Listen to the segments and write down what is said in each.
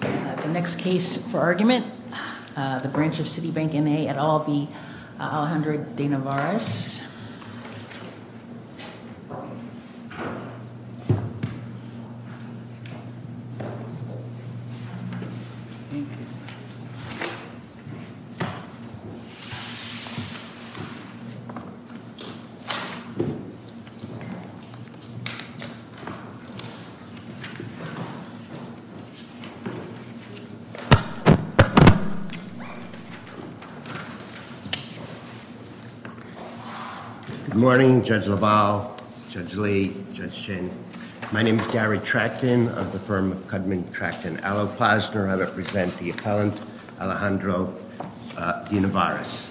The next case for argument, the branch of Citibank, N.A. v. De Nevares Good morning, Judge LaValle, Judge Lee, Judge Shin. My name is Gary Tracton of the firm of Kudman Tracton Allo-Posner. I represent the appellant Alejandro De Nevares.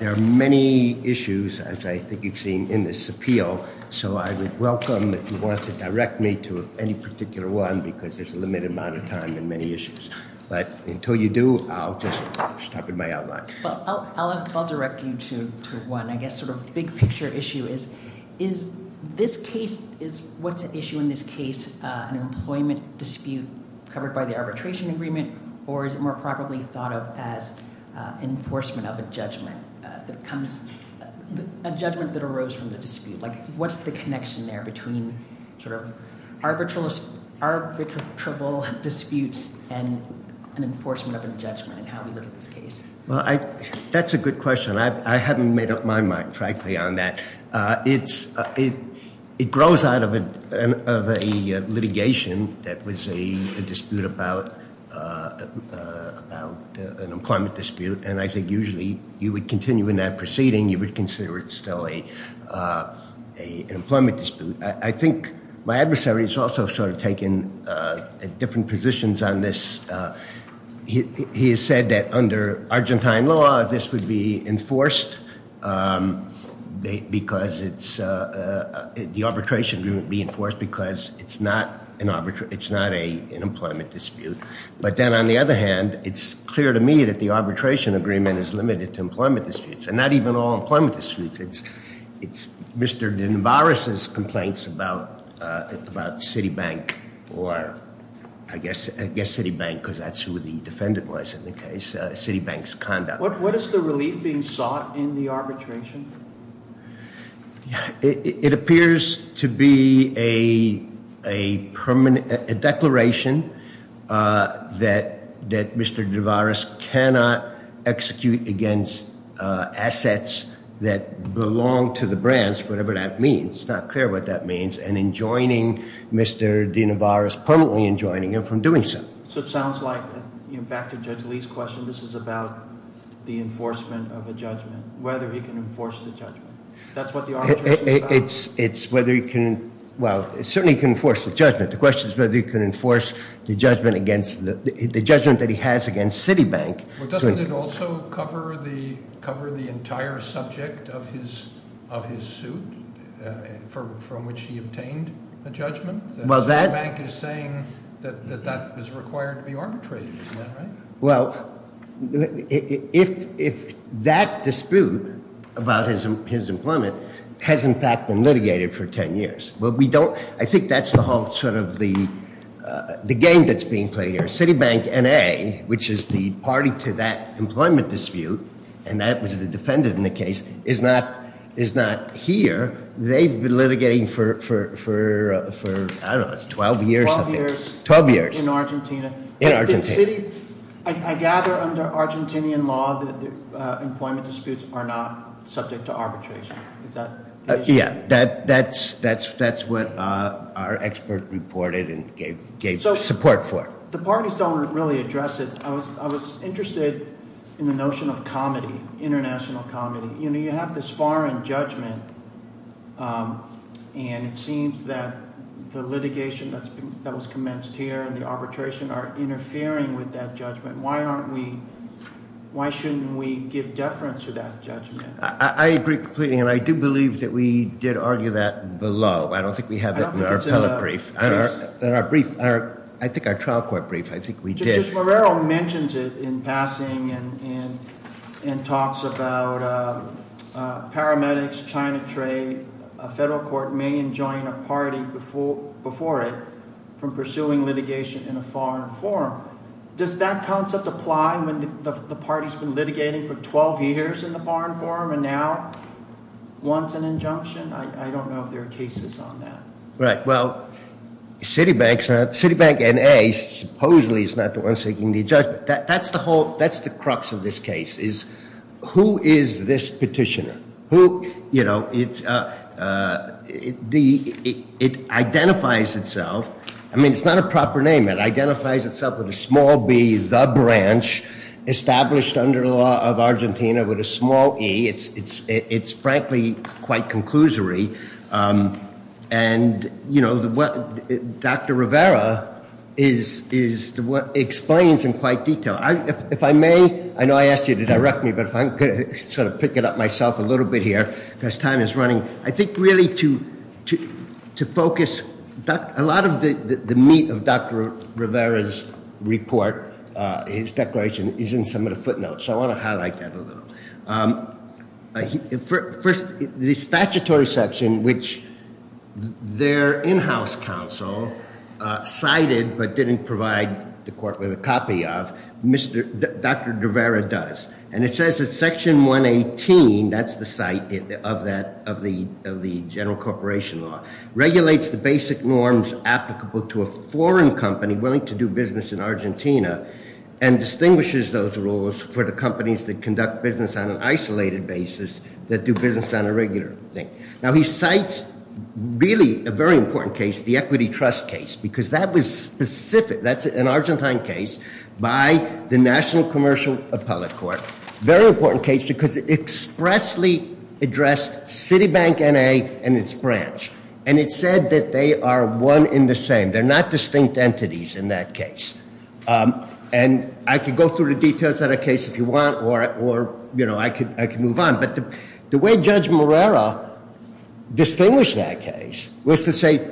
There are many issues, as I think you've seen in this appeal, so I would welcome if you want to direct me to any particular one because there's a limited amount of time and many issues. But until you do, I'll just stop at my outline. Well, I'll direct you to one, I guess, sort of big picture issue is, is this case, is what's at issue in this case an employment dispute covered by the arbitration agreement or is it more probably thought of as enforcement of a judgment that comes, a judgment that sort of arbitral disputes and an enforcement of a judgment in how we look at this case? Well, I, that's a good question. I haven't made up my mind, frankly, on that. It's, it grows out of a litigation that was a dispute about an employment dispute and I think usually you would continue in that proceeding, you would consider it still an employment dispute. I think my adversary has also sort of taken different positions on this. He has said that under Argentine law, this would be enforced because it's, the arbitration would be enforced because it's not an, it's not an employment dispute. But then on the other hand, it's clear to me that the arbitration agreement is limited to employment disputes and not even all employment disputes. It's, it's Mr. DeVaris' complaints about, about Citibank or I guess, I guess Citibank because that's who the defendant was in the case, Citibank's conduct. What is the relief being sought in the arbitration? It appears to be a permanent, a declaration that, that Mr. DeVaris cannot execute against assets that belong to the branch, whatever that means. It's not clear what that means and enjoining Mr. DeVaris, permanently enjoining him from doing so. So it sounds like, you know, back to Judge Lee's question, this is about the enforcement of a judgment, whether he can enforce the judgment. That's what the arbitration is about? It's, it's whether he can, well, certainly he can enforce the judgment. The question is whether he can enforce the judgment against the, the judgment that he has against Citibank. Well, doesn't it also cover the, cover the entire subject of his, of his suit from, from which he obtained a judgment? Well, that... Citibank is saying that, that that is required to be arbitrated, is that right? Well, if, if that dispute about his, his employment has in fact been litigated for ten years, well, we don't, I think that's the whole sort of the, the game that's being played here. Citibank N.A., which is the party to that employment dispute, and that was the defendant in the case, is not, is not here. They've been litigating for, for, for, I don't know, it's 12 years, I think. Twelve years. Twelve years. In Argentina. In Argentina. The city, I, I gather under Argentinian law that the employment disputes are not subject to arbitration. Is that the issue? Yeah, that, that's, that's, that's what our expert reported and gave, gave support for. The parties don't really address it. I was, I was interested in the notion of comedy, international comedy. You know, you have this foreign judgment, and it seems that the litigation that's been, that was commenced here and the arbitration are interfering with that judgment. Why aren't we, why shouldn't we give deference to that judgment? I, I agree completely, and I do believe that we did argue that below. I don't think we have it in our appellate brief. I don't think it's in our brief. Our, I think our trial court brief, I think we did. Judge Morrell mentions it in passing and, and, and talks about paramedics, China trade, a federal court may enjoin a party before, before it from pursuing litigation in a foreign forum. Does that concept apply when the, the party's been litigating for 12 years in the foreign forum and now wants an injunction? I, I don't know if there are cases on that. Right, well, Citibank's not, Citibank N.A. supposedly is not the one seeking the judgment. That, that's the whole, that's the crux of this case is who is this petitioner? Who, you know, it's, it identifies itself. I mean, it's not a proper name. It identifies itself with a small b, the branch, established under the law of Argentina with a small e. It's, it's, it's frankly quite conclusory. And, you know, the, Dr. Rivera is, is, explains in quite detail. If I may, I know I asked you to direct me, but if I could sort of pick it up myself a little bit here, because time is running. I think really to, to, to focus a lot of the, the meat of Dr. Rivera's report, his declaration is in some of the footnotes. So I want to highlight that a little. First, the statutory section, which their in-house counsel cited, but didn't provide the court with a copy of, Mr., Dr. Rivera does. And it says that section 118, that's the site of that, of the, of the general corporation law, regulates the basic norms applicable to a foreign company willing to do business in Argentina and distinguishes those rules for the companies that conduct business on an isolated basis that do business on a regular thing. Now he cites really a very important case, the equity trust case, because that was specific. That's an Argentine case by the National Commercial Appellate Court. Very important case because it expressly addressed Citibank N.A. and its branch. And it said that they are one in the same. They're not different. And I could go through the details of that case if you want, or, or, you know, I could, I could move on. But the way Judge Morera distinguished that case was to say,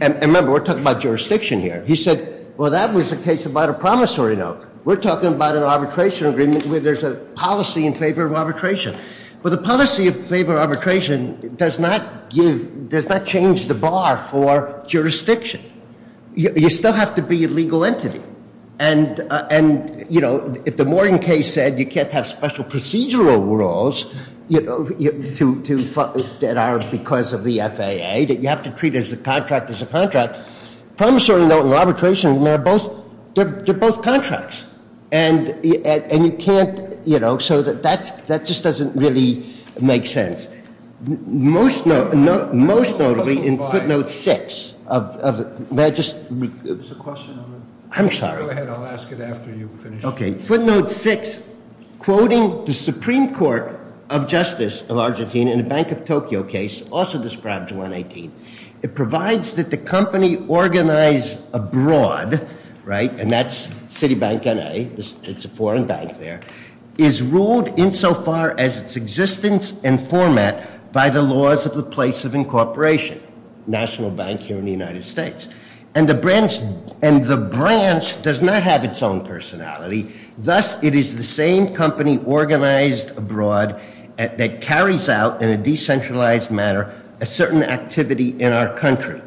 and remember, we're talking about jurisdiction here. He said, well, that was a case about a promissory note. We're talking about an arbitration agreement where there's a policy in favor of arbitration. But the policy in favor of arbitration does not give, does not change the bar for jurisdiction. You still have to be a legal entity. And, and, you know, if the Morgan case said you can't have special procedural rules, you know, to, to, that are because of the FAA, that you have to treat as a contract as a contract, promissory note and arbitration, they're both, they're both contracts. And, and you can't, you know, so that's, that just doesn't really make sense. Most, most notably in footnote six of, of, may I just, I'm sorry. Go ahead, I'll ask it after you finish. Okay. Footnote six, quoting the Supreme Court of Justice of Argentina in the Bank of Tokyo case, also described to 118, it provides that the company organized abroad, right, and that's Citibank N.A., it's a foreign bank there, is ruled insofar as its existence and format by the laws of the place of incorporation, National Bank here in the United States. And the branch, and the branch does not have its own personality, thus it is the same company organized abroad that carries out in a decentralized manner a certain activity in our country.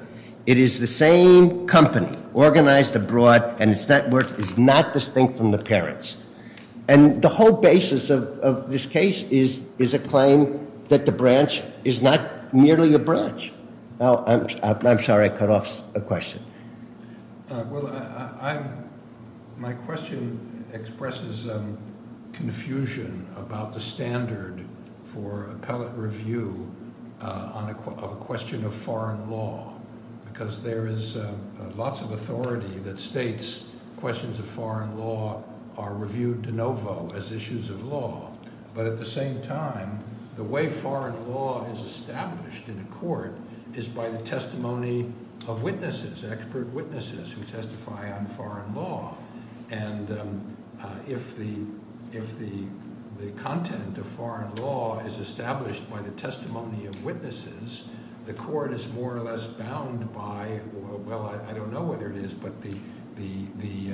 It is the same company organized abroad and its net worth is not distinct from the parents. And the whole basis of, of this case is, is a claim that the branch is not merely a branch. Now, I'm, I'm sorry, I cut off a question. Well, I, I'm, my question expresses confusion about the standard for appellate review on a, of a question of foreign law. Because there is lots of authority that states questions of foreign law are reviewed de novo as issues of law. But at the same time, the way foreign law is established in a court is by the testimony of witnesses, expert witnesses who testify on foreign law. And if the, if the, the content of foreign law is established by the testimony of witnesses, the court is more or less bound by, well, I don't know whether it is, but the, the, the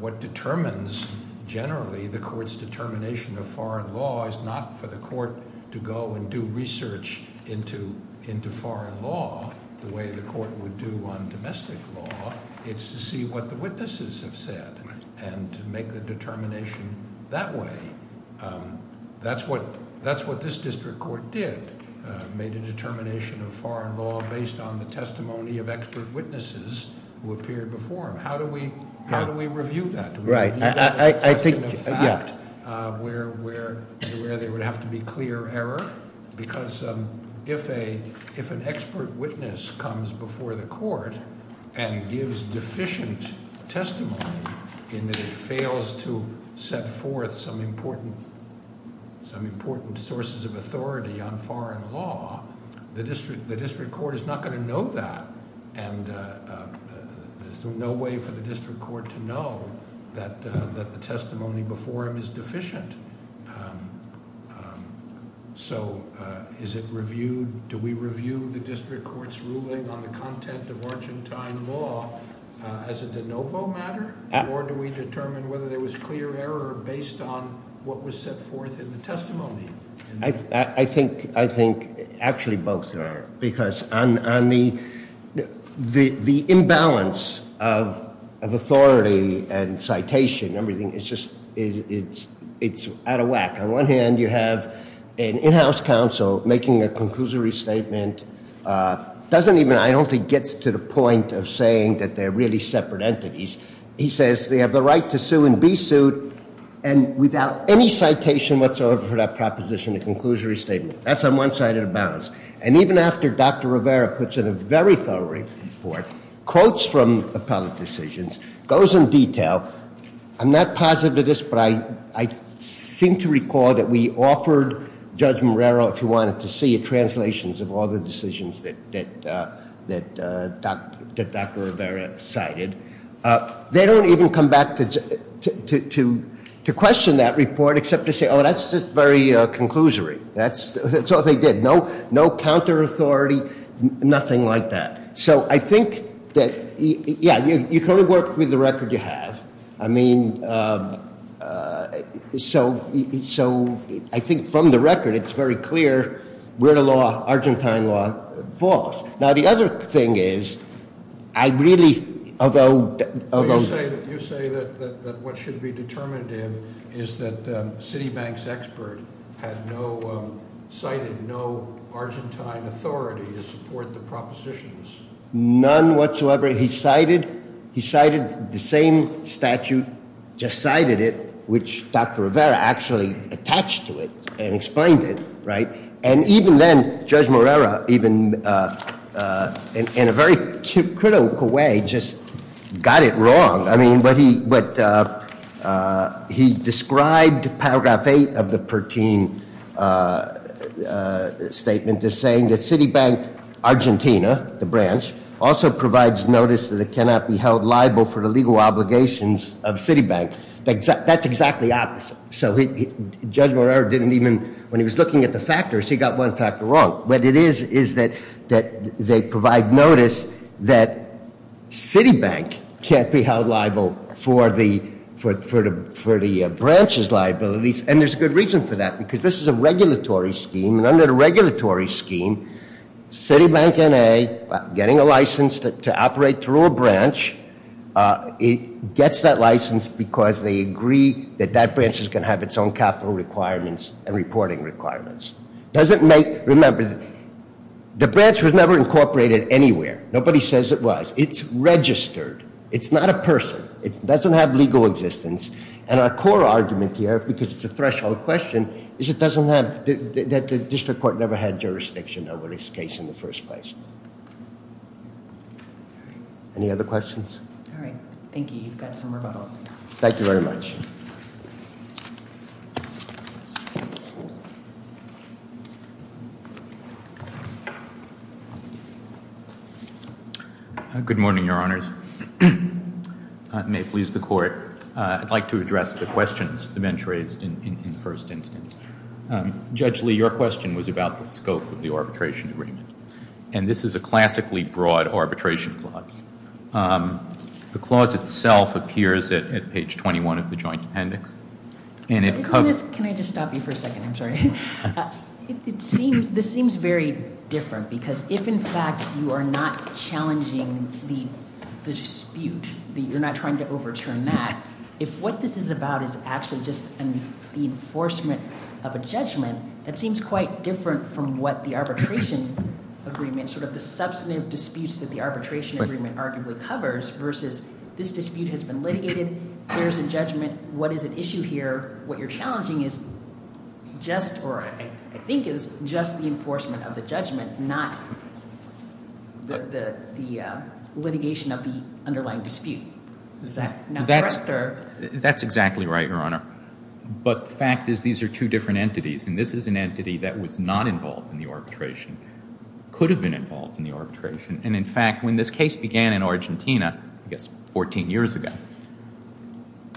what determines generally the court's determination of foreign law is not for the court to go and do research into, into foreign law the way the court would do on domestic law. It's to see what the witnesses have said and to make the determination that way. That's what, that's what this district court did, made a determination of foreign law based on the testimony of expert witnesses who appeared before him. How do we, how do we review that? Do we review that as a question of fact where, where, where there would have to be clear error? Because if a, if an expert witness comes before the court and gives deficient testimony in that it fails to set forth some important, some important sources of authority on foreign law, the district, the district court is not going to know that. And there's no way for the district court to know that, that the testimony before him is deficient. So is it reviewed, do we review the district court's ruling on the content of Argentine law as a de novo matter? Or do we determine whether there was clear error based on what was set forth in the testimony? I, I think, I think actually both are. Because on, on the, the, the imbalance of, of authority and citation and everything, it's just, it's, it's out of whack. On one hand you have an in-house council making a conclusory statement, doesn't even, I don't think gets to the point of saying that they're really separate entities. He says they have the right to sue and be sued and without any citation whatsoever for that proposition, a conclusory statement. That's on one side of the balance. And even after Dr. Rivera puts in a very thorough report, quotes from appellate decisions, goes in detail, I'm not positive of this, but I, I seem to recall that we offered Judge Morero, if you wanted to see translations of all the decisions that, that, that Dr., that Dr. Rivera cited. They don't even come back to, to, to, to question that report except to say, oh, that's just very conclusory. That's, that's all they did. No, no counter-authority, nothing like that. So I think that, yeah, you, you can only work with the record you have. I mean, so, so I think from the record it's very clear where the law, Argentine law falls. Now the other thing is, I really, although, although- You say that, you say that, that, that what should be determined in is that Citibank's expert had no, cited no Argentine authority to support the propositions. None whatsoever. He cited, he cited the same statute, just cited it, which Dr. Rivera actually attached to it and explained it, right? And even then, Judge Morero, even in, in a very critical way, just got it wrong. I mean, what he, what he described paragraph eight of the Pertin statement is saying that Citibank Argentina, the branch, also provides notice that it cannot be held liable for the legal obligations of Citibank. That's exactly opposite. So Judge Morero didn't even, when he was looking at the factors, he got one factor wrong. What it is, is that, that they provide notice that Citibank can't be held liable for the, for the, for the branch's liabilities. And there's a good reason for that, because this is a regulatory scheme. And under the regulatory scheme, Citibank NA, getting a license to operate through a branch, it gets that license because they agree that that branch is going to have its own capital requirements and reporting requirements. Doesn't make, remember, the branch was never incorporated anywhere. Nobody says it was. It's registered. It's not a person. It doesn't have legal existence. And our core argument here, because it's a threshold question, is it doesn't have, that the district court never had jurisdiction over this case in the first place. Any other questions? All right. Thank you. You've got some rebuttal. Thank you very much. Good morning, Your Honors. May it please the Court. I'd like to address the questions the bench raised in the first instance. Judge Lee, your question was about the scope of the arbitration agreement. And this is a classically broad arbitration clause. The clause itself appears at page 21 of the joint appendix. Can I just stop you for a second? I'm sorry. This seems very different, because if in fact you are not challenging the dispute, you're not trying to overturn that, if what this is about is actually just the enforcement of a judgment, that seems quite different from what the arbitration agreement, sort of the substantive disputes that the arbitration agreement arguably covers, versus this dispute has been litigated, there's a judgment, what is at issue here? What you're challenging is just, or I think is just the enforcement of the judgment, not the litigation of the underlying dispute. Is that not correct? That's exactly right, Your Honor. But the fact is these are two different entities, and this is an entity that was not involved in the arbitration, could have been involved in the arbitration, and in fact when this case began in Argentina, I guess 14 years ago,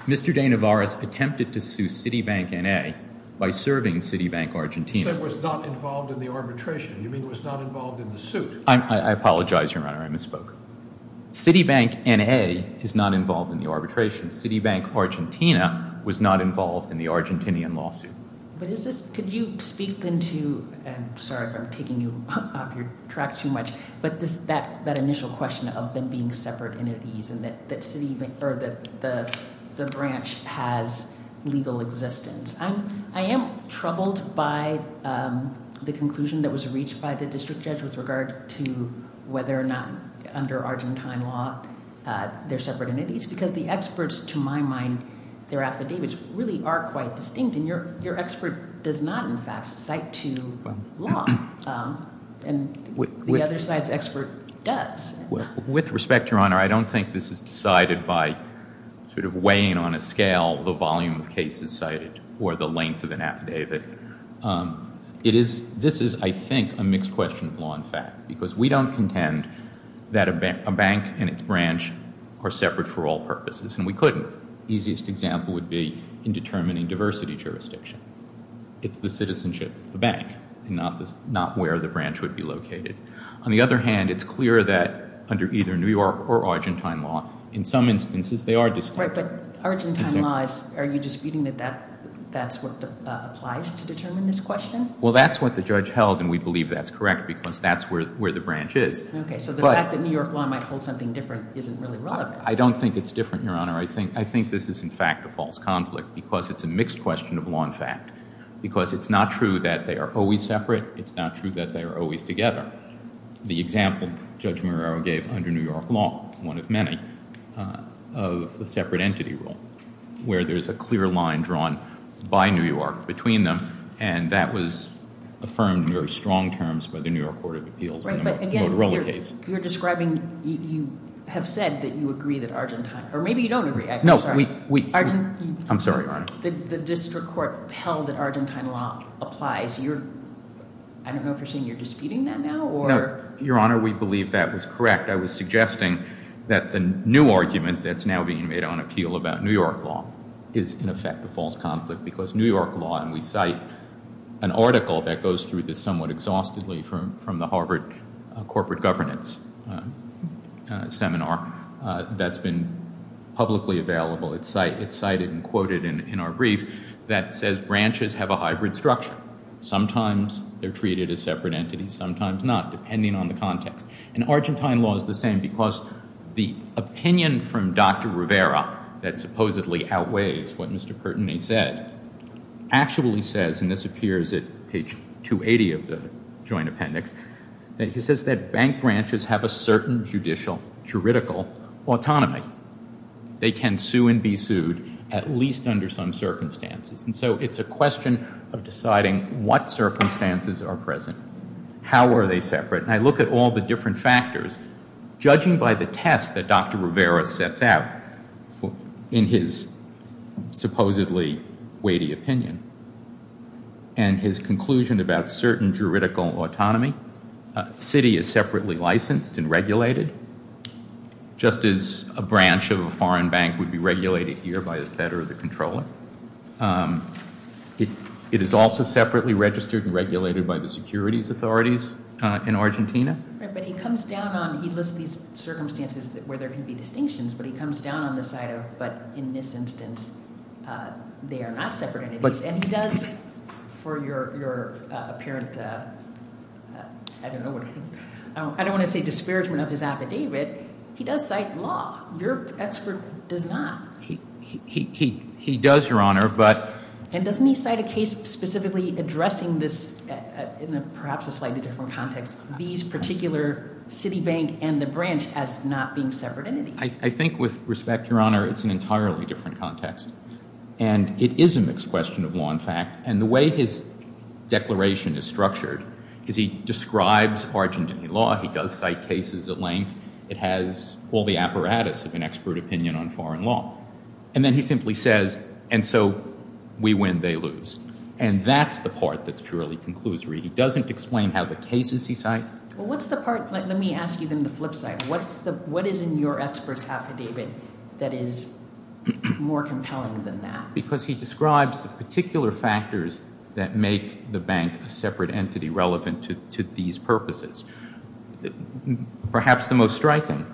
Mr. De Navares attempted to sue Citibank N.A. by serving Citibank Argentina. So it was not involved in the arbitration? You mean it was not involved in the suit? I apologize, Your Honor. I misspoke. Citibank N.A. is not involved in the arbitration. Citibank Argentina was not involved in the Argentinian lawsuit. But is this, could you speak then to, and sorry if I'm taking you off your track too much, but that initial question of them being separate entities and that the branch has legal existence. I am troubled by the conclusion that was reached by the district judge with regard to whether or not under Argentine law they're separate entities because the experts, to my mind, their affidavits really are quite distinct, and your expert does not in fact cite to law. And the other side's expert does. With respect, Your Honor, I don't think this is decided by sort of weighing on a scale the volume of cases cited or the length of an affidavit. This is, I think, a mixed question of law and fact because we don't contend that a bank and its branch are separate for all purposes, and we couldn't. The easiest example would be in determining diversity jurisdiction. It's the citizenship of the bank and not where the branch would be located. On the other hand, it's clear that under either New York or Argentine law, in some instances they are distinct. Right, but Argentine law, are you disputing that that's what applies to determine this question? Well, that's what the judge held, and we believe that's correct because that's where the branch is. Okay, so the fact that New York law might hold something different isn't really relevant. I don't think it's different, Your Honor. I think this is in fact a false conflict because it's a mixed question of law and fact because it's not true that they are always separate. It's not true that they are always together. The example Judge Marrero gave under New York law, one of many, of the separate entity rule where there's a clear line drawn by New York between them, and that was affirmed under strong terms by the New York Court of Appeals in the Motorola case. Right, but again, you're describing, you have said that you agree that Argentine, or maybe you don't agree, I'm sorry. No, we, I'm sorry, Your Honor. The district court held that Argentine law applies. You're, I don't know if you're saying you're disputing that now or? No, Your Honor, we believe that was correct. I was suggesting that the new argument that's now being made on appeal about New York law is in effect a false conflict because New York law, and we cite an article that goes through this somewhat exhaustively from the Harvard corporate governance seminar that's been publicly available. It's cited and quoted in our brief that says branches have a hybrid structure. Sometimes they're treated as separate entities, sometimes not, depending on the context. And Argentine law is the same because the opinion from Dr. Rivera that supposedly outweighs what Mr. Pertinney said actually says, and this appears at page 280 of the joint appendix, that he says that bank branches have a certain judicial, juridical autonomy. They can sue and be sued at least under some circumstances. And so it's a question of deciding what circumstances are present. How are they separate? And I look at all the different factors. Judging by the test that Dr. Rivera sets out in his supposedly weighty opinion and his conclusion about certain juridical autonomy, a city is separately licensed and regulated, just as a branch of a foreign bank would be regulated here by the Fed or the Comptroller. It is also separately registered and regulated by the securities authorities in Argentina. Right, but he comes down on, he lists these circumstances where there can be distinctions, but he comes down on the side of, but in this instance they are not separate entities. And he does, for your apparent, I don't know, I don't want to say disparagement of his affidavit, he does cite law. Your expert does not. He does, Your Honor. And doesn't he cite a case specifically addressing this, in perhaps a slightly different context, these particular city bank and the branch as not being separate entities? I think with respect, Your Honor, it's an entirely different context. And it is a mixed question of law and fact. And the way his declaration is structured is he describes Argentine law. He does cite cases at length. It has all the apparatus of an expert opinion on foreign law. And then he simply says, and so we win, they lose. And that's the part that's purely conclusory. He doesn't explain how the cases he cites. Well, what's the part, let me ask you then the flip side. What is in your expert's affidavit that is more compelling than that? Because he describes the particular factors that make the bank a separate entity relevant to these purposes. Perhaps the most striking,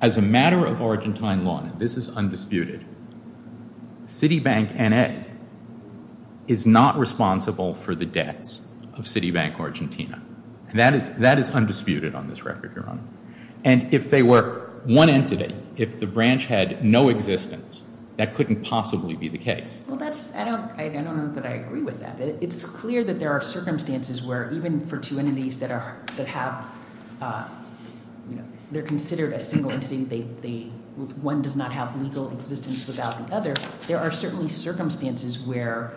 as a matter of Argentine law, and this is undisputed, city bank N.A. is not responsible for the debts of city bank Argentina. And that is undisputed on this record, Your Honor. And if they were one entity, if the branch had no existence, that couldn't possibly be the case. Well, I don't know that I agree with that. It's clear that there are circumstances where even for two entities that have, you know, they're considered a single entity, one does not have legal existence without the other. There are certainly circumstances where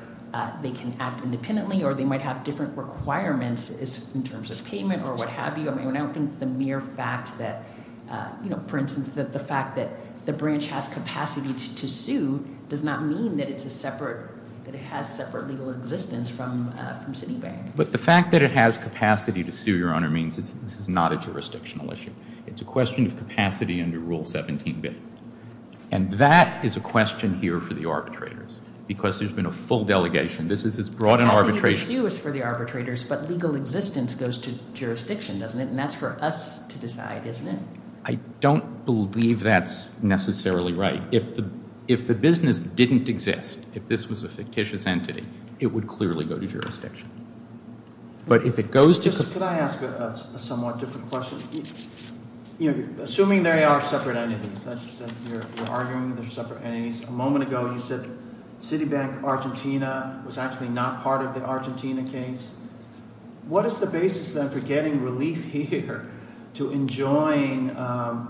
they can act independently or they might have different requirements in terms of payment or what have you. And I don't think the mere fact that, you know, for instance, the fact that the branch has capacity to sue does not mean that it's a separate, that it has separate legal existence from city bank. But the fact that it has capacity to sue, Your Honor, means this is not a jurisdictional issue. It's a question of capacity under Rule 17b. And that is a question here for the arbitrators because there's been a full delegation. This is as broad an arbitration. Capacity to sue is for the arbitrators, but legal existence goes to jurisdiction, doesn't it? And that's for us to decide, isn't it? I don't believe that's necessarily right. If the business didn't exist, if this was a fictitious entity, it would clearly go to jurisdiction. But if it goes to- Could I ask a somewhat different question? Assuming there are separate entities, you're arguing there's separate entities. A moment ago you said Citibank Argentina was actually not part of the Argentina case. What is the basis then for getting relief here to enjoin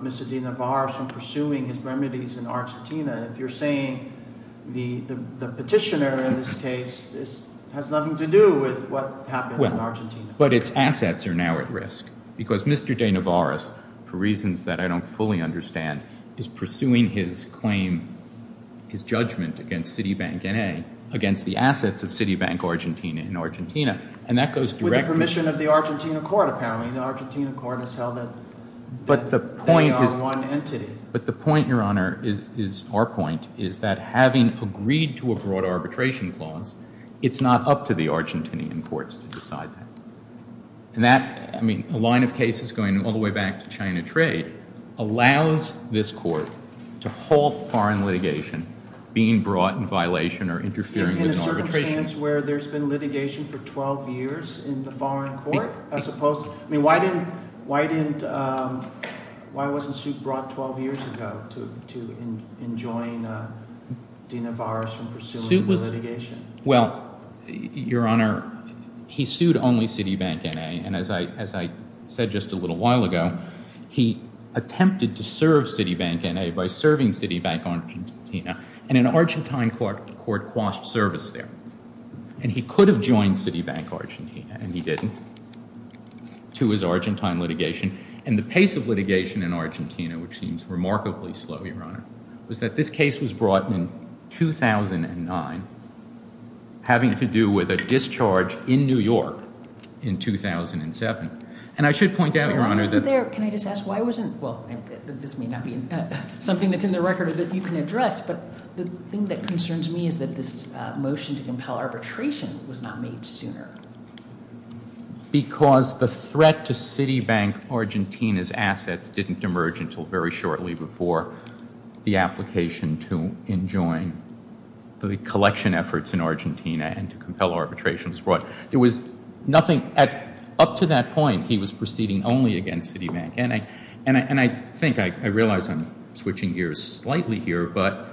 Mr. De Navarro from pursuing his remedies in Argentina? If you're saying the petitioner in this case has nothing to do with what happened in Argentina. But its assets are now at risk because Mr. De Navarro, for reasons that I don't fully understand, is pursuing his claim, his judgment against Citibank N.A., against the assets of Citibank Argentina in Argentina. And that goes directly- With the permission of the Argentina court, apparently. The Argentina court has held that they are one entity. But the point, Your Honor, is our point, is that having agreed to a broad arbitration clause, it's not up to the Argentinian courts to decide that. And that, I mean, a line of cases going all the way back to China trade, allows this court to halt foreign litigation being brought in violation or interfering with an arbitration- In a circumstance where there's been litigation for 12 years in the foreign court? I suppose, I mean, why didn't, why wasn't Suit brought 12 years ago to enjoin De Navarro from pursuing the litigation? Well, Your Honor, he sued only Citibank N.A., and as I said just a little while ago, he attempted to serve Citibank N.A. by serving Citibank Argentina, and an Argentine court quashed service there. And he could have joined Citibank Argentina, and he didn't, to his Argentine litigation. And the pace of litigation in Argentina, which seems remarkably slow, Your Honor, was that this case was brought in 2009, having to do with a discharge in New York in 2007. And I should point out, Your Honor, that- Can I just ask, why wasn't, well, this may not be something that's in the record that you can address, but the thing that concerns me is that this motion to compel arbitration was not made sooner. Because the threat to Citibank Argentina's assets didn't emerge until very shortly before the application to enjoin the collection efforts in Argentina and to compel arbitration was brought. There was nothing, up to that point, he was proceeding only against Citibank. And I think, I realize I'm switching gears slightly here, but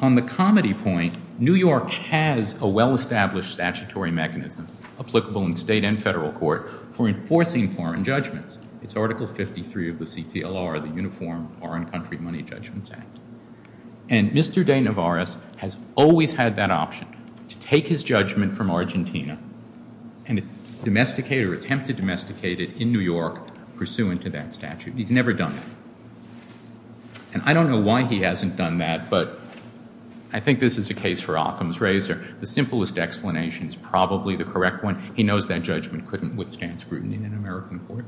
on the comedy point, New York has a well-established statutory mechanism, applicable in state and federal court, for enforcing foreign judgments. It's Article 53 of the CPLR, the Uniform Foreign Country Money Judgments Act. And Mr. De Navares has always had that option, to take his judgment from Argentina and domesticate or attempt to domesticate it in New York, pursuant to that statute. He's never done it. And I don't know why he hasn't done that, but I think this is a case for Occam's razor. The simplest explanation is probably the correct one. He knows that judgment couldn't withstand scrutiny in an American court.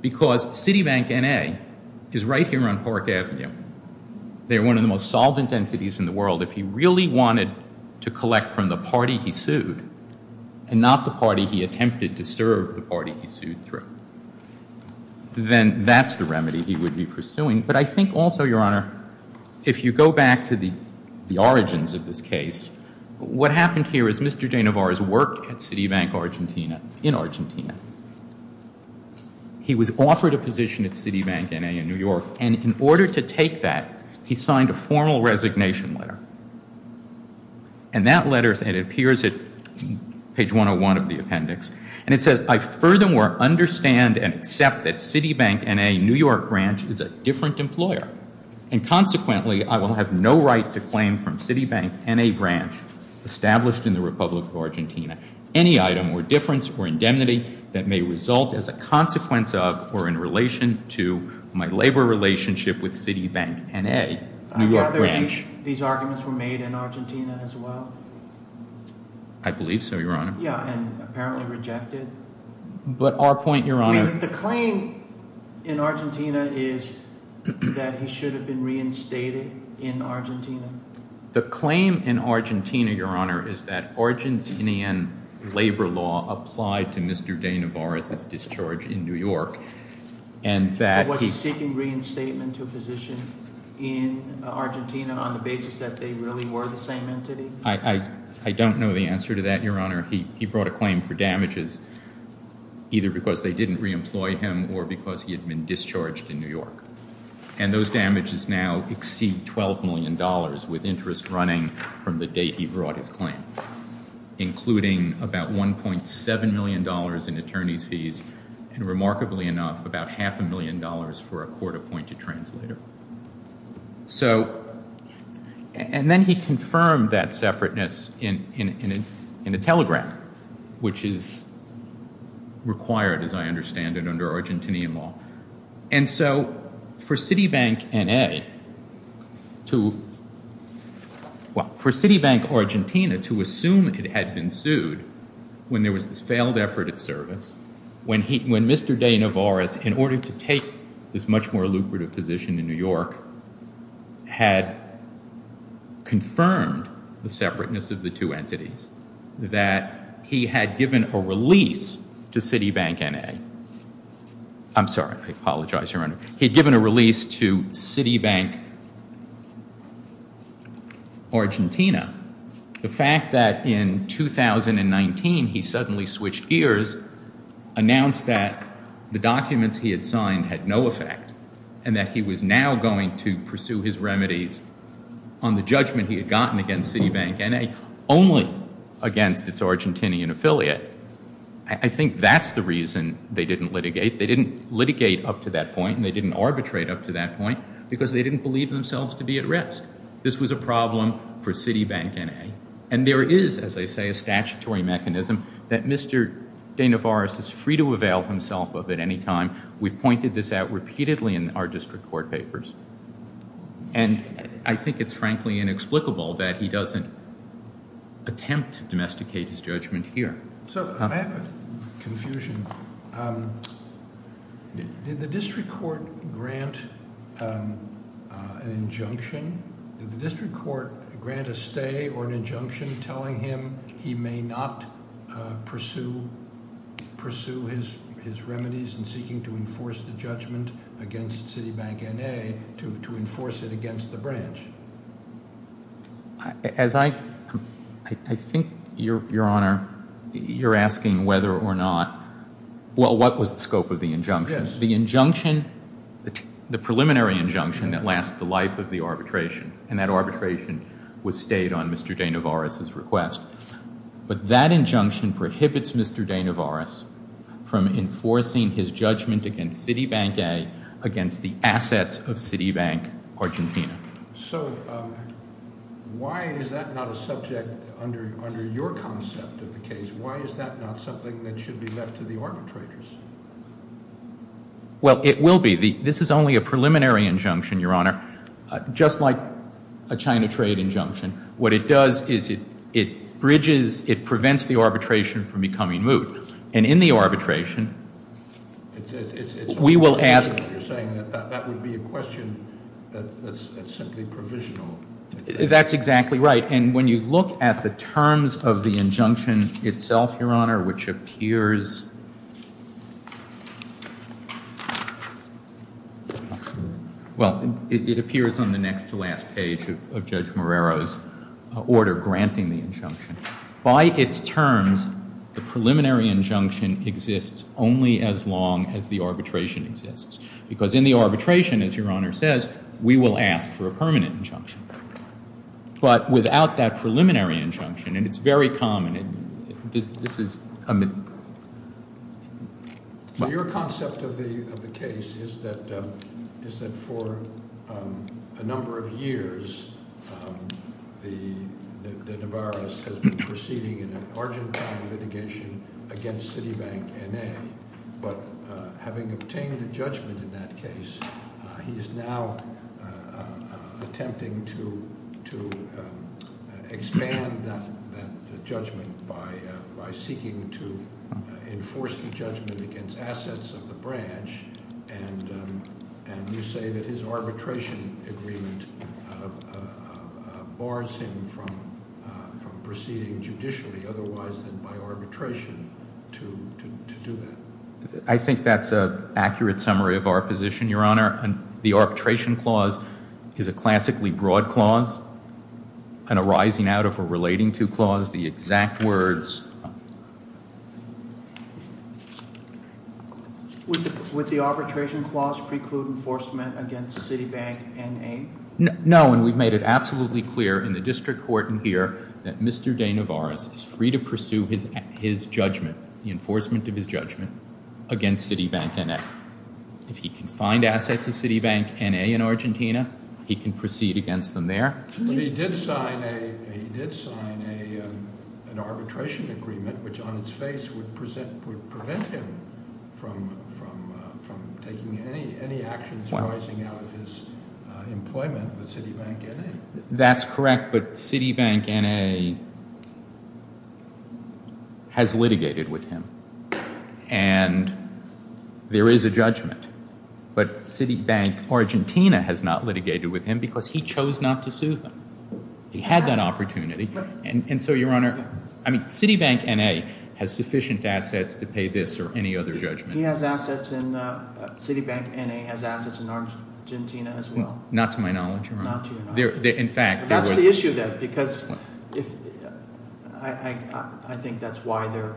Because Citibank N.A. is right here on Park Avenue. They're one of the most solvent entities in the world. If he really wanted to collect from the party he sued, and not the party he attempted to serve the party he sued through, then that's the remedy he would be pursuing. But I think also, Your Honor, if you go back to the origins of this case, what happened here is Mr. De Navares worked at Citibank in Argentina. He was offered a position at Citibank N.A. in New York, and in order to take that, he signed a formal resignation letter. And that letter, it appears at page 101 of the appendix, and it says, I furthermore understand and accept that Citibank N.A. New York branch is a different employer. And consequently, I will have no right to claim from Citibank N.A. branch, established in the Republic of Argentina, any item or difference or indemnity that may result as a consequence of or in relation to my labor relationship with Citibank N.A. New York branch. I gather these arguments were made in Argentina as well? I believe so, Your Honor. Yeah, and apparently rejected. But our point, Your Honor— The claim in Argentina is that he should have been reinstated in Argentina? The claim in Argentina, Your Honor, is that Argentinian labor law applied to Mr. De Navares' discharge in New York, and that he— Was he seeking reinstatement to a position in Argentina on the basis that they really were the same entity? I don't know the answer to that, Your Honor. He brought a claim for damages either because they didn't reemploy him or because he had been discharged in New York. And those damages now exceed $12 million with interest running from the date he brought his claim, including about $1.7 million in attorney's fees and, remarkably enough, about half a million dollars for a court-appointed translator. So—and then he confirmed that separateness in a telegram, which is required, as I understand it, under Argentinian law. And so for Citibank N.A. to—well, for Citibank Argentina to assume it had been sued when there was this failed effort at service, when Mr. De Navares, in order to take this much more lucrative position in New York, had confirmed the separateness of the two entities, that he had given a release to Citibank N.A. I'm sorry. I apologize, Your Honor. He had given a release to Citibank Argentina. The fact that in 2019 he suddenly switched gears, announced that the documents he had signed had no effect and that he was now going to pursue his remedies on the judgment he had gotten against Citibank N.A., only against its Argentinian affiliate, I think that's the reason they didn't litigate. They didn't litigate up to that point and they didn't arbitrate up to that point because they didn't believe themselves to be at risk. This was a problem for Citibank N.A. And there is, as I say, a statutory mechanism that Mr. De Navares is free to avail himself of at any time. We've pointed this out repeatedly in our district court papers. And I think it's frankly inexplicable that he doesn't attempt to domesticate his judgment here. So I have confusion. Did the district court grant an injunction? Did the district court grant a stay or an injunction telling him he may not pursue his remedies in seeking to enforce the judgment against Citibank N.A. to enforce it against the branch? As I think, Your Honor, you're asking whether or not, well, what was the scope of the injunction? Yes. The injunction, the preliminary injunction that lasts the life of the arbitration, and that arbitration was stayed on Mr. De Navares' request. But that injunction prohibits Mr. De Navares from enforcing his judgment against Citibank N.A., against the assets of Citibank Argentina. So why is that not a subject under your concept of the case? Why is that not something that should be left to the arbitrators? Well, it will be. This is only a preliminary injunction, Your Honor, just like a China trade injunction. What it does is it bridges, it prevents the arbitration from becoming moot. And in the arbitration, we will ask. You're saying that that would be a question that's simply provisional. That's exactly right. And when you look at the terms of the injunction itself, Your Honor, which appears, well, it appears on the next to last page of Judge Morero's order granting the injunction. By its terms, the preliminary injunction exists only as long as the arbitration exists. Because in the arbitration, as Your Honor says, we will ask for a permanent injunction. But without that preliminary injunction, and it's very common, this is a... So your concept of the case is that for a number of years, the Navarro's has been proceeding in an Argentine litigation against Citibank N.A. But having obtained a judgment in that case, he is now attempting to expand that judgment by seeking to enforce the judgment against assets of the branch. And you say that his arbitration agreement bars him from proceeding judicially, otherwise than by arbitration, to do that. I think that's an accurate summary of our position, Your Honor. The arbitration clause is a classically broad clause, and arising out of a relating to clause, the exact words... Would the arbitration clause preclude enforcement against Citibank N.A.? No, and we've made it absolutely clear in the district court in here that Mr. de Navarro is free to pursue his judgment, the enforcement of his judgment against Citibank N.A. If he can find assets of Citibank N.A. in Argentina, he can proceed against them there. But he did sign an arbitration agreement, which on its face would prevent him from taking any actions arising out of his employment with Citibank N.A. That's correct, but Citibank N.A. has litigated with him, and there is a judgment. But Citibank Argentina has not litigated with him because he chose not to sue them. He had that opportunity. And so, Your Honor, I mean, Citibank N.A. has sufficient assets to pay this or any other judgment. He has assets in... Citibank N.A. has assets in Argentina as well. Not to my knowledge, Your Honor. Not to your knowledge. In fact, there was... That's the issue, then, because I think that's why they're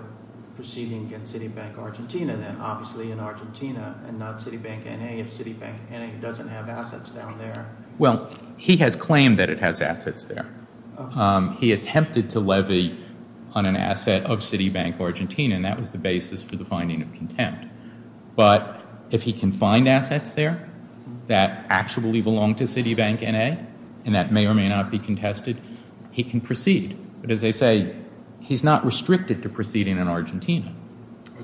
proceeding against Citibank Argentina, and not Citibank N.A. if Citibank N.A. doesn't have assets down there. Well, he has claimed that it has assets there. He attempted to levy on an asset of Citibank Argentina, and that was the basis for the finding of contempt. But if he can find assets there that actually belong to Citibank N.A., and that may or may not be contested, he can proceed. But as I say, he's not restricted to proceeding in Argentina.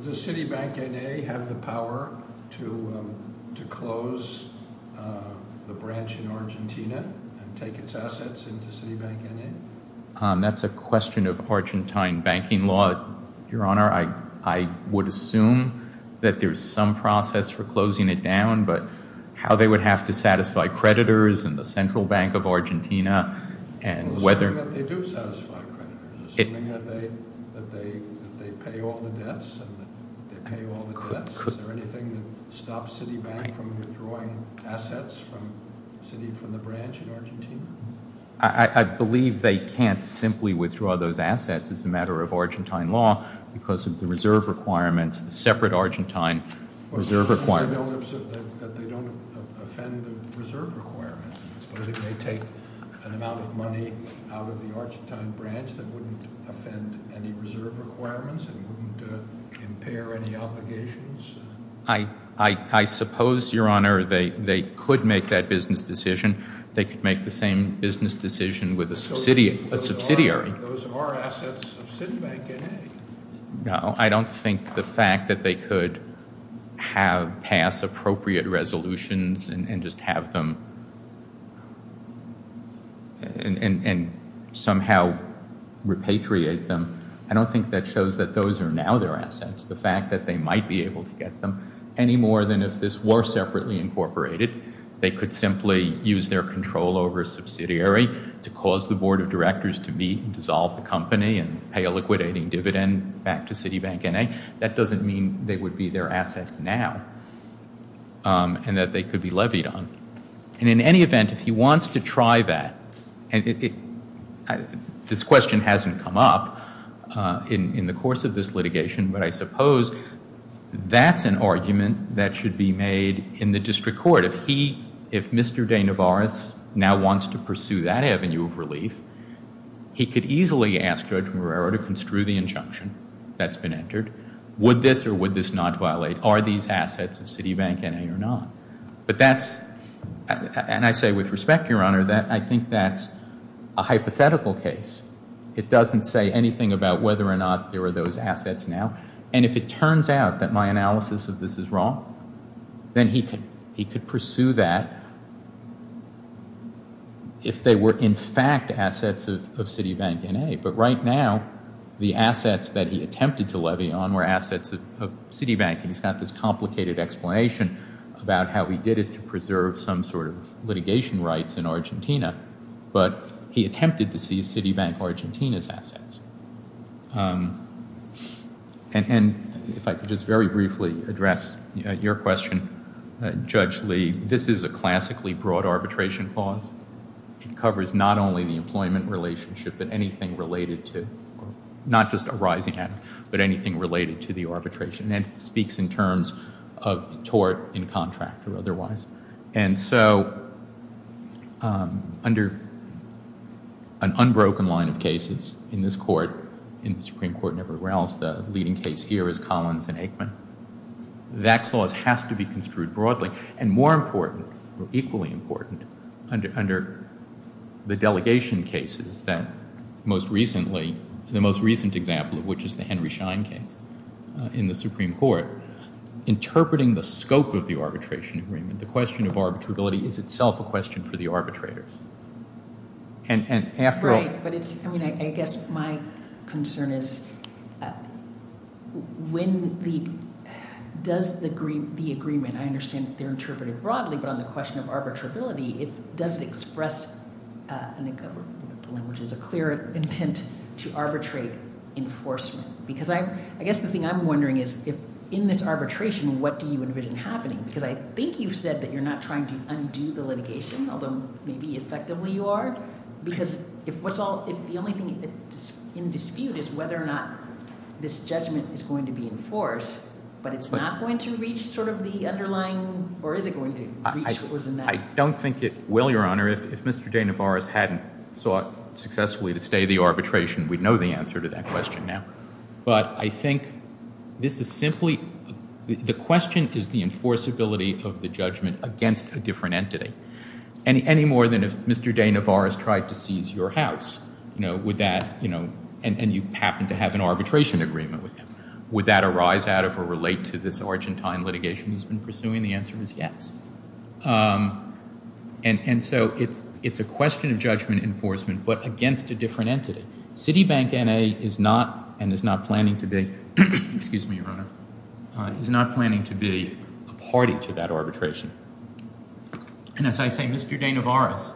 Does Citibank N.A. have the power to close the branch in Argentina and take its assets into Citibank N.A.? That's a question of Argentine banking law, Your Honor. I would assume that there's some process for closing it down, but how they would have to satisfy creditors and the Central Bank of Argentina and whether... Assuming that they pay all the debts and that they pay all the debts, is there anything that stops Citibank from withdrawing assets from the branch in Argentina? I believe they can't simply withdraw those assets as a matter of Argentine law because of the reserve requirements, the separate Argentine reserve requirements. Assuming that they don't offend the reserve requirements, but it may take an amount of money out of the Argentine branch that wouldn't offend any reserve requirements and wouldn't impair any obligations? I suppose, Your Honor, they could make that business decision. They could make the same business decision with a subsidiary. Those are assets of Citibank N.A. No, I don't think the fact that they could have passed appropriate resolutions and just have them and somehow repatriate them, I don't think that shows that those are now their assets. The fact that they might be able to get them, any more than if this were separately incorporated, they could simply use their control over a subsidiary to cause the board of directors to meet and dissolve the company and pay a liquidating dividend back to Citibank N.A., that doesn't mean they would be their assets now and that they could be levied on. And in any event, if he wants to try that, this question hasn't come up in the course of this litigation, but I suppose that's an argument that should be made in the district court. If Mr. De Navares now wants to pursue that avenue of relief, he could easily ask Judge Marrero to construe the injunction that's been entered. Would this or would this not violate? Are these assets of Citibank N.A. or not? But that's, and I say with respect, Your Honor, that I think that's a hypothetical case. It doesn't say anything about whether or not there are those assets now. And if it turns out that my analysis of this is wrong, then he could pursue that if they were in fact assets of Citibank N.A., but right now the assets that he attempted to levy on were assets of Citibank and he's got this complicated explanation about how he did it to preserve some sort of litigation rights in Argentina, but he attempted to seize Citibank Argentina's assets. And if I could just very briefly address your question, Judge Lee, this is a classically broad arbitration clause. It covers not only the employment relationship, but anything related to, not just a rising asset, but anything related to the arbitration and it speaks in terms of tort in contract or otherwise. And so under an unbroken line of cases in this court, in the Supreme Court and everywhere else, the leading case here is Collins and Aikman. That clause has to be construed broadly. And more important, or equally important, under the delegation cases that most recently, the most recent example of which is the Henry Schein case in the Supreme Court, interpreting the scope of the arbitration agreement, the question of arbitrability, is itself a question for the arbitrators. And after all- Right, but it's, I mean, I guess my concern is when the, does the agreement, I understand they're interpreted broadly, but on the question of arbitrability, does it express, I think the language is a clear intent, to arbitrate enforcement? Because I guess the thing I'm wondering is if in this arbitration, what do you envision happening? Because I think you've said that you're not trying to undo the litigation, although maybe effectively you are, because if what's all, if the only thing in dispute is whether or not this judgment is going to be enforced, but it's not going to reach sort of the underlying, or is it going to reach what was in that- I don't think it will, Your Honor. If Mr. De Navares hadn't sought successfully to stay the arbitration, we'd know the answer to that question now. But I think this is simply, the question is the enforceability of the judgment against a different entity. Any more than if Mr. De Navares tried to seize your house, would that, and you happen to have an arbitration agreement with him, would that arise out of or relate to this Argentine litigation he's been pursuing? The answer is yes. And so it's a question of judgment enforcement, but against a different entity. Citibank N.A. is not, and is not planning to be- excuse me, Your Honor- is not planning to be a party to that arbitration. And as I say, Mr. De Navares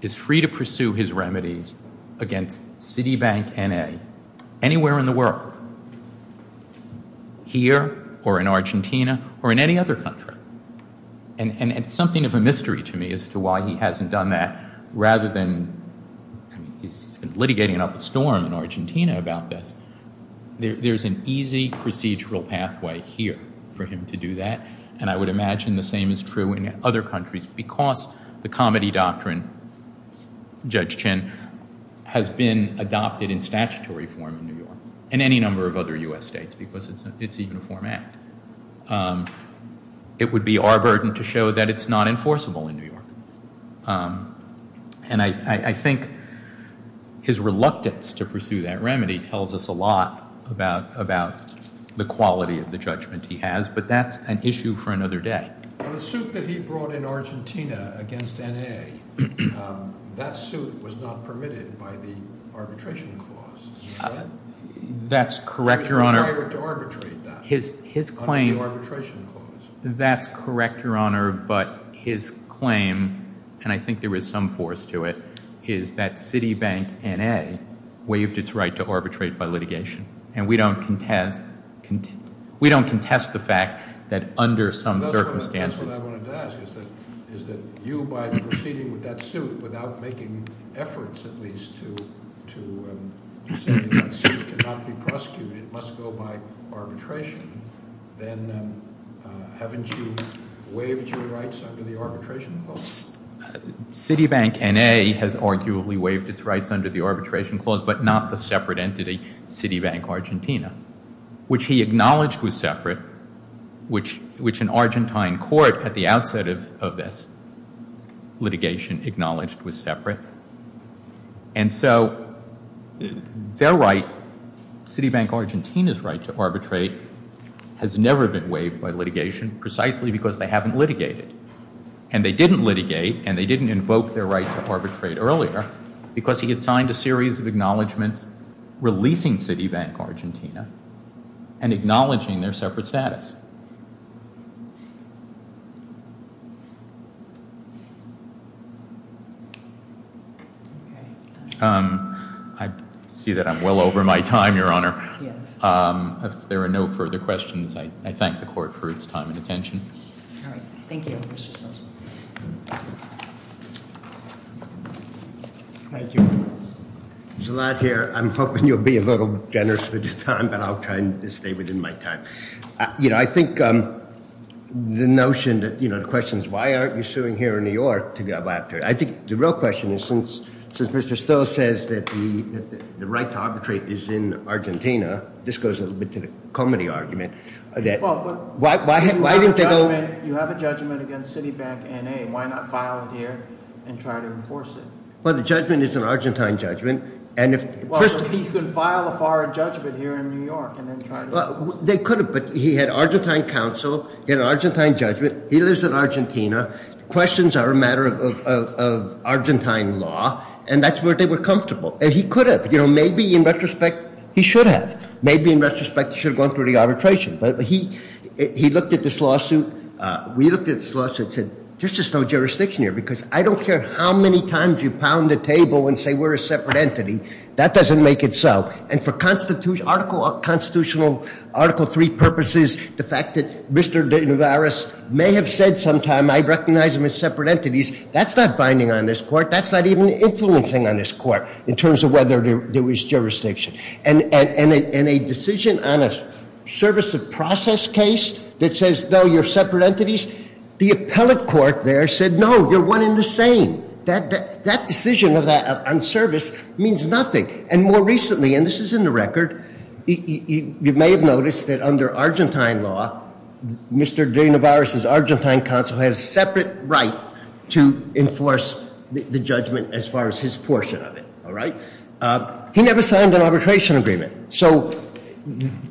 is free to pursue his remedies against Citibank N.A. anywhere in the world. Here, or in Argentina, or in any other country. And it's something of a mystery to me as to why he hasn't done that, rather than, he's been litigating it up a storm in Argentina about this. There's an easy procedural pathway here for him to do that, and I would imagine the same is true in other countries, because the comedy doctrine, Judge Chin, has been adopted in statutory form in New York, and any number of other U.S. states, because it's a uniform act. It would be our burden to show that it's not enforceable in New York. And I think his reluctance to pursue that remedy tells us a lot about the quality of the judgment he has, but that's an issue for another day. The suit that he brought in Argentina against N.A., that suit was not permitted by the arbitration clause. That's correct, Your Honor. Under the arbitration clause. That's correct, Your Honor, but his claim, and I think there is some force to it, is that Citibank N.A. waived its right to arbitrate by litigation, and we don't contest the fact that under some circumstances. That's what I wanted to ask, is that you, by proceeding with that suit, without making efforts at least to say that that suit cannot be prosecuted, it must go by arbitration, then haven't you waived your rights under the arbitration clause? Citibank N.A. has arguably waived its rights under the arbitration clause, but not the separate entity, Citibank Argentina, which he acknowledged was separate, which an Argentine court at the outset of this litigation acknowledged was separate. And so their right, Citibank Argentina's right to arbitrate, has never been waived by litigation, precisely because they haven't litigated. And they didn't litigate, and they didn't invoke their right to arbitrate earlier, because he had signed a series of acknowledgements releasing Citibank Argentina and acknowledging their separate status. I see that I'm well over my time, Your Honor. Yes. If there are no further questions, I thank the court for its time and attention. All right. Thank you, Mr. Cecil. Thank you. Gilad here. I'm hoping you'll be a little generous with your time, but I'll try and stay within my time. You know, I think the notion that, you know, the question is, why aren't you suing here in New York to go after it? I think the real question is, since Mr. Stowe says that the right to arbitrate is in Argentina, this goes a little bit to the comedy argument, that why didn't they go? You have a judgment against Citibank NA. Why not file it here and try to enforce it? Well, the judgment is an Argentine judgment. Well, he could file a foreign judgment here in New York and then try to. They could have, but he had Argentine counsel, he had an Argentine judgment, he lives in Argentina, questions are a matter of Argentine law, and that's where they were comfortable. And he could have. You know, maybe in retrospect he should have. Maybe in retrospect he should have gone through the arbitration. But he looked at this lawsuit, we looked at this lawsuit and said, there's just no jurisdiction here because I don't care how many times you pound the table and say we're a separate entity, that doesn't make it so. And for constitutional Article 3 purposes, the fact that Mr. De Navarro may have said sometime, I recognize them as separate entities, that's not binding on this court, that's not even influencing on this court in terms of whether there was jurisdiction. And a decision on a service of process case that says, no, you're separate entities, the appellate court there said, no, you're one and the same. That decision on service means nothing. And more recently, and this is in the record, you may have noticed that under Argentine law, Mr. De Navarro's Argentine counsel has a separate right to enforce the judgment as far as his portion of it. All right? He never signed an arbitration agreement. So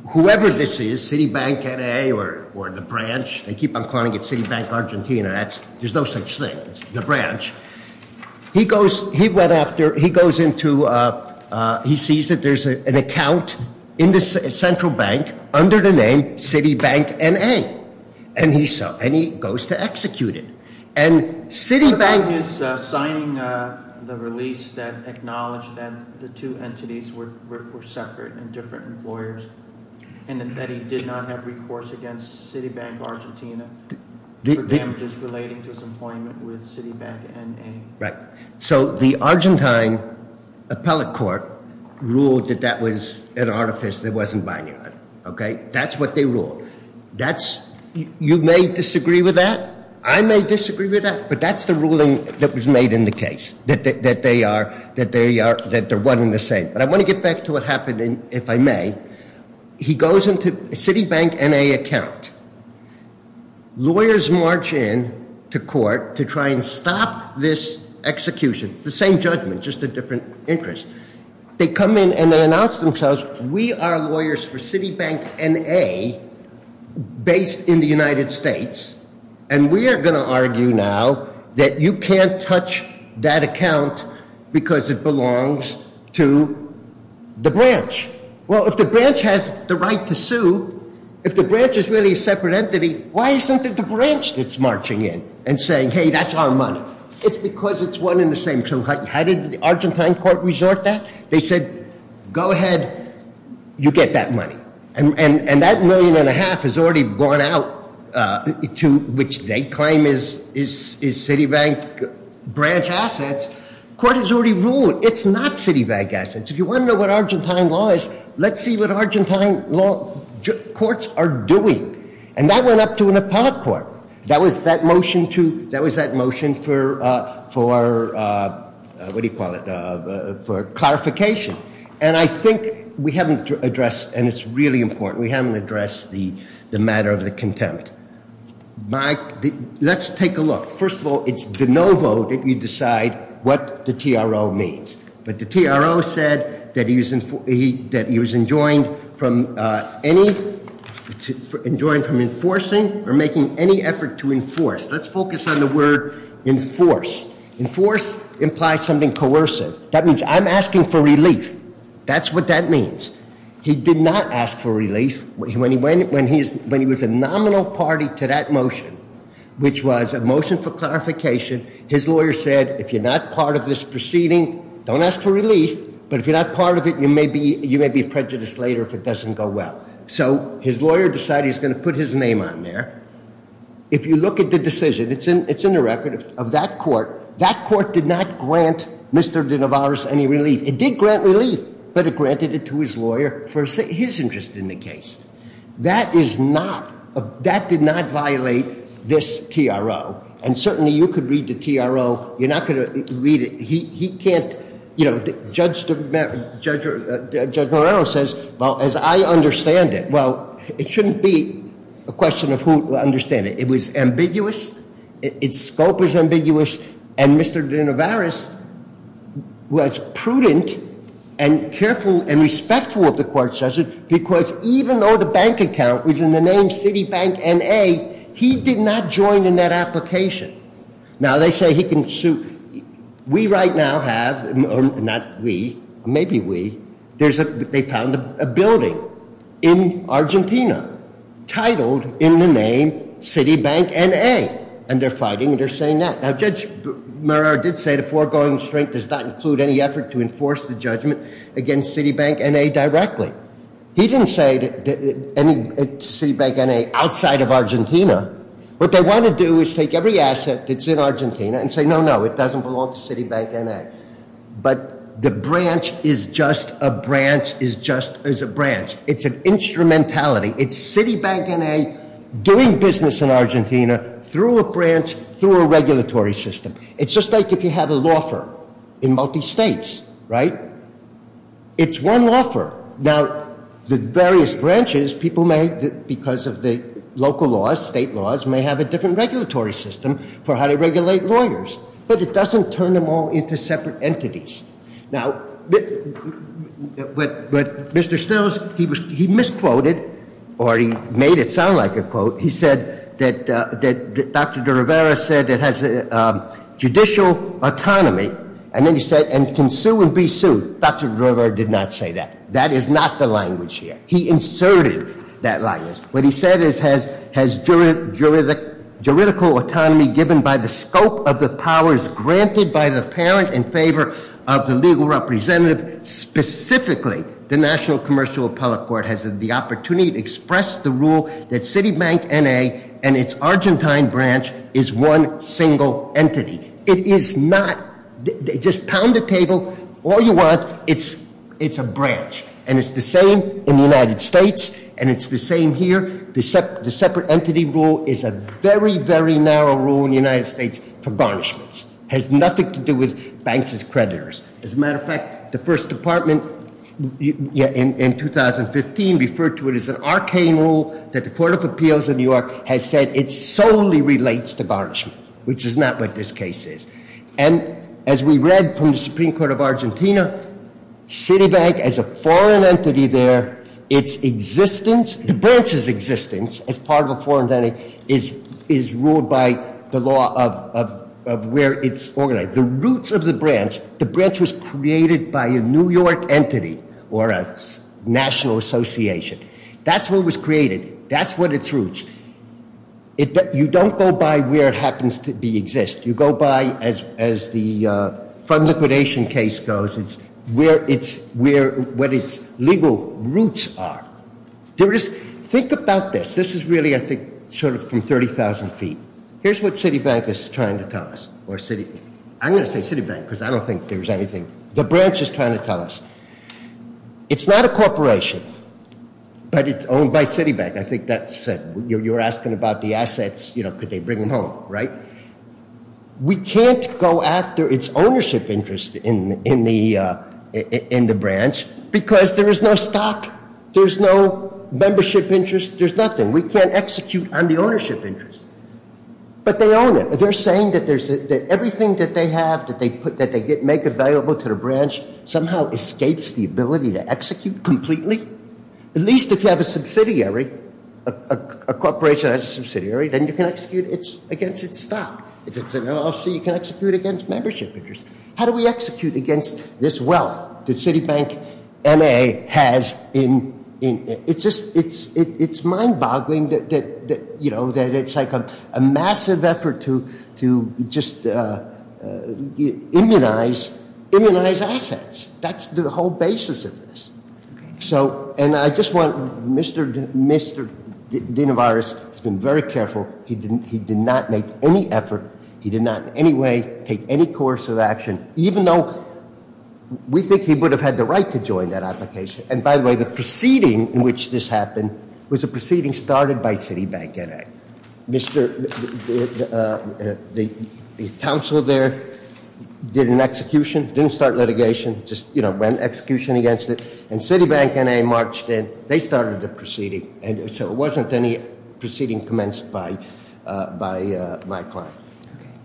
whoever this is, Citibank, NAA, or the branch, they keep on calling it Citibank Argentina, there's no such thing, it's the branch. He goes, he went after, he goes into, he sees that there's an account in the central bank under the name Citibank NA. And he goes to execute it. And Citibank- He's signing the release that acknowledged that the two entities were separate and different employers. And that he did not have recourse against Citibank Argentina. For damages relating to his employment with Citibank NA. Right. So the Argentine appellate court ruled that that was an artifice that wasn't binding on him. Okay? That's what they ruled. That's, you may disagree with that. I may disagree with that. But that's the ruling that was made in the case. That they are, that they are, that they're one and the same. But I want to get back to what happened in, if I may. He goes into Citibank NA account. Lawyers march in to court to try and stop this execution. It's the same judgment, just a different interest. They come in and they announce themselves, we are lawyers for Citibank NA based in the United States. And we are going to argue now that you can't touch that account because it belongs to the branch. Well, if the branch has the right to sue, if the branch is really a separate entity, why isn't it the branch that's marching in and saying, hey, that's our money? It's because it's one and the same. So how did the Argentine court resort that? They said, go ahead, you get that money. And that million and a half has already gone out to, which they claim is Citibank branch assets. Court has already ruled it's not Citibank assets. If you want to know what Argentine law is, let's see what Argentine courts are doing. And that went up to a Nepal court. That was that motion for, what do you call it, for clarification. And I think we haven't addressed, and it's really important, we haven't addressed the matter of the contempt. Let's take a look. First of all, it's de novo that we decide what the TRO means. But the TRO said that he was enjoined from enforcing or making any effort to enforce. Let's focus on the word enforce. Enforce implies something coercive. That means I'm asking for relief. That's what that means. He did not ask for relief. When he was a nominal party to that motion, which was a motion for clarification, his lawyer said, if you're not part of this proceeding, don't ask for relief. But if you're not part of it, you may be prejudiced later if it doesn't go well. So his lawyer decided he was going to put his name on there. If you look at the decision, it's in the record of that court. That court did not grant Mr. de Novaris any relief. It did grant relief, but it granted it to his lawyer for his interest in the case. That is not, that did not violate this TRO. And certainly, you could read the TRO. You're not going to read it. He can't, you know, Judge Moreno says, well, as I understand it. Well, it shouldn't be a question of who will understand it. It was ambiguous. Its scope was ambiguous. And Mr. de Novaris was prudent and careful and respectful of the court's judgment because even though the bank account was in the name Citibank N.A., he did not join in that application. Now, they say he can sue. We right now have, not we, maybe we, there's a, they found a building in Argentina titled in the name Citibank N.A. And they're fighting and they're saying that. Now, Judge Moreno did say the foregoing restraint does not include any effort to enforce the judgment against Citibank N.A. directly. He didn't say any Citibank N.A. outside of Argentina. What they want to do is take every asset that's in Argentina and say, no, no, it doesn't belong to Citibank N.A. But the branch is just a branch is just as a branch. It's an instrumentality. It's Citibank N.A. doing business in Argentina through a branch, through a regulatory system. It's just like if you have a law firm in multi-states, right? It's one law firm. Now, the various branches, people may, because of the local laws, state laws, may have a different regulatory system for how to regulate lawyers. But it doesn't turn them all into separate entities. Now, what Mr. Stills, he misquoted, or he made it sound like a quote. He said that Dr. Rivera said it has judicial autonomy, and then he said, and can sue and be sued. Dr. Rivera did not say that. That is not the language here. He inserted that language. What he said is has juridical autonomy given by the scope of the powers granted by the parent in favor of the legal representative. Specifically, the National Commercial Appellate Court has the opportunity to express the rule that Citibank N.A. and its Argentine branch is one single entity. It is not, just pound the table all you want, it's a branch. And it's the same in the United States, and it's the same here. The separate entity rule is a very, very narrow rule in the United States for garnishments. It has nothing to do with banks as creditors. As a matter of fact, the first department in 2015 referred to it as an arcane rule that the Court of Appeals of New York has said it solely relates to garnishment, which is not what this case is. And as we read from the Supreme Court of Argentina, Citibank as a foreign entity there, its existence, the branch's existence as part of a foreign entity is ruled by the law of where it's organized. The roots of the branch, the branch was created by a New York entity or a national association. That's what was created. That's what its roots. You don't go by where it happens to be exist. You go by as the fund liquidation case goes. It's where its legal roots are. Think about this. This is really, I think, sort of from 30,000 feet. Here's what Citibank is trying to tell us. I'm going to say Citibank because I don't think there's anything the branch is trying to tell us. It's not a corporation, but it's owned by Citibank. I think that's it. You're asking about the assets, you know, could they bring them home, right? We can't go after its ownership interest in the branch because there is no stock. There's no membership interest. There's nothing. We can't execute on the ownership interest. But they own it. They're saying that everything that they have, that they make available to the branch, somehow escapes the ability to execute completely. At least if you have a subsidiary, a corporation has a subsidiary, then you can execute against its stock. If it's an LLC, you can execute against membership interest. How do we execute against this wealth that Citibank MA has? It's mind-boggling that it's like a massive effort to just immunize assets. That's the whole basis of this. And I just want, Mr. Dinovirus has been very careful. He did not make any effort. He did not in any way take any course of action, even though we think he would have had the right to join that application. And by the way, the proceeding in which this happened was a proceeding started by Citibank MA. The council there did an execution, didn't start litigation, just ran execution against it, and Citibank MA marched in. They started the proceeding, and so it wasn't any proceeding commenced by my client.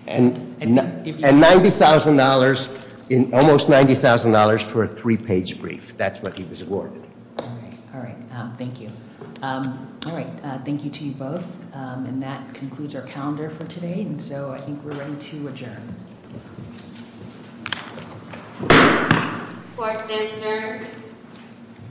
And $90,000, almost $90,000 for a three-page brief. That's what he was awarded. All right, thank you. All right, thank you to you both, and that concludes our calendar for today. And so I think we're ready to adjourn.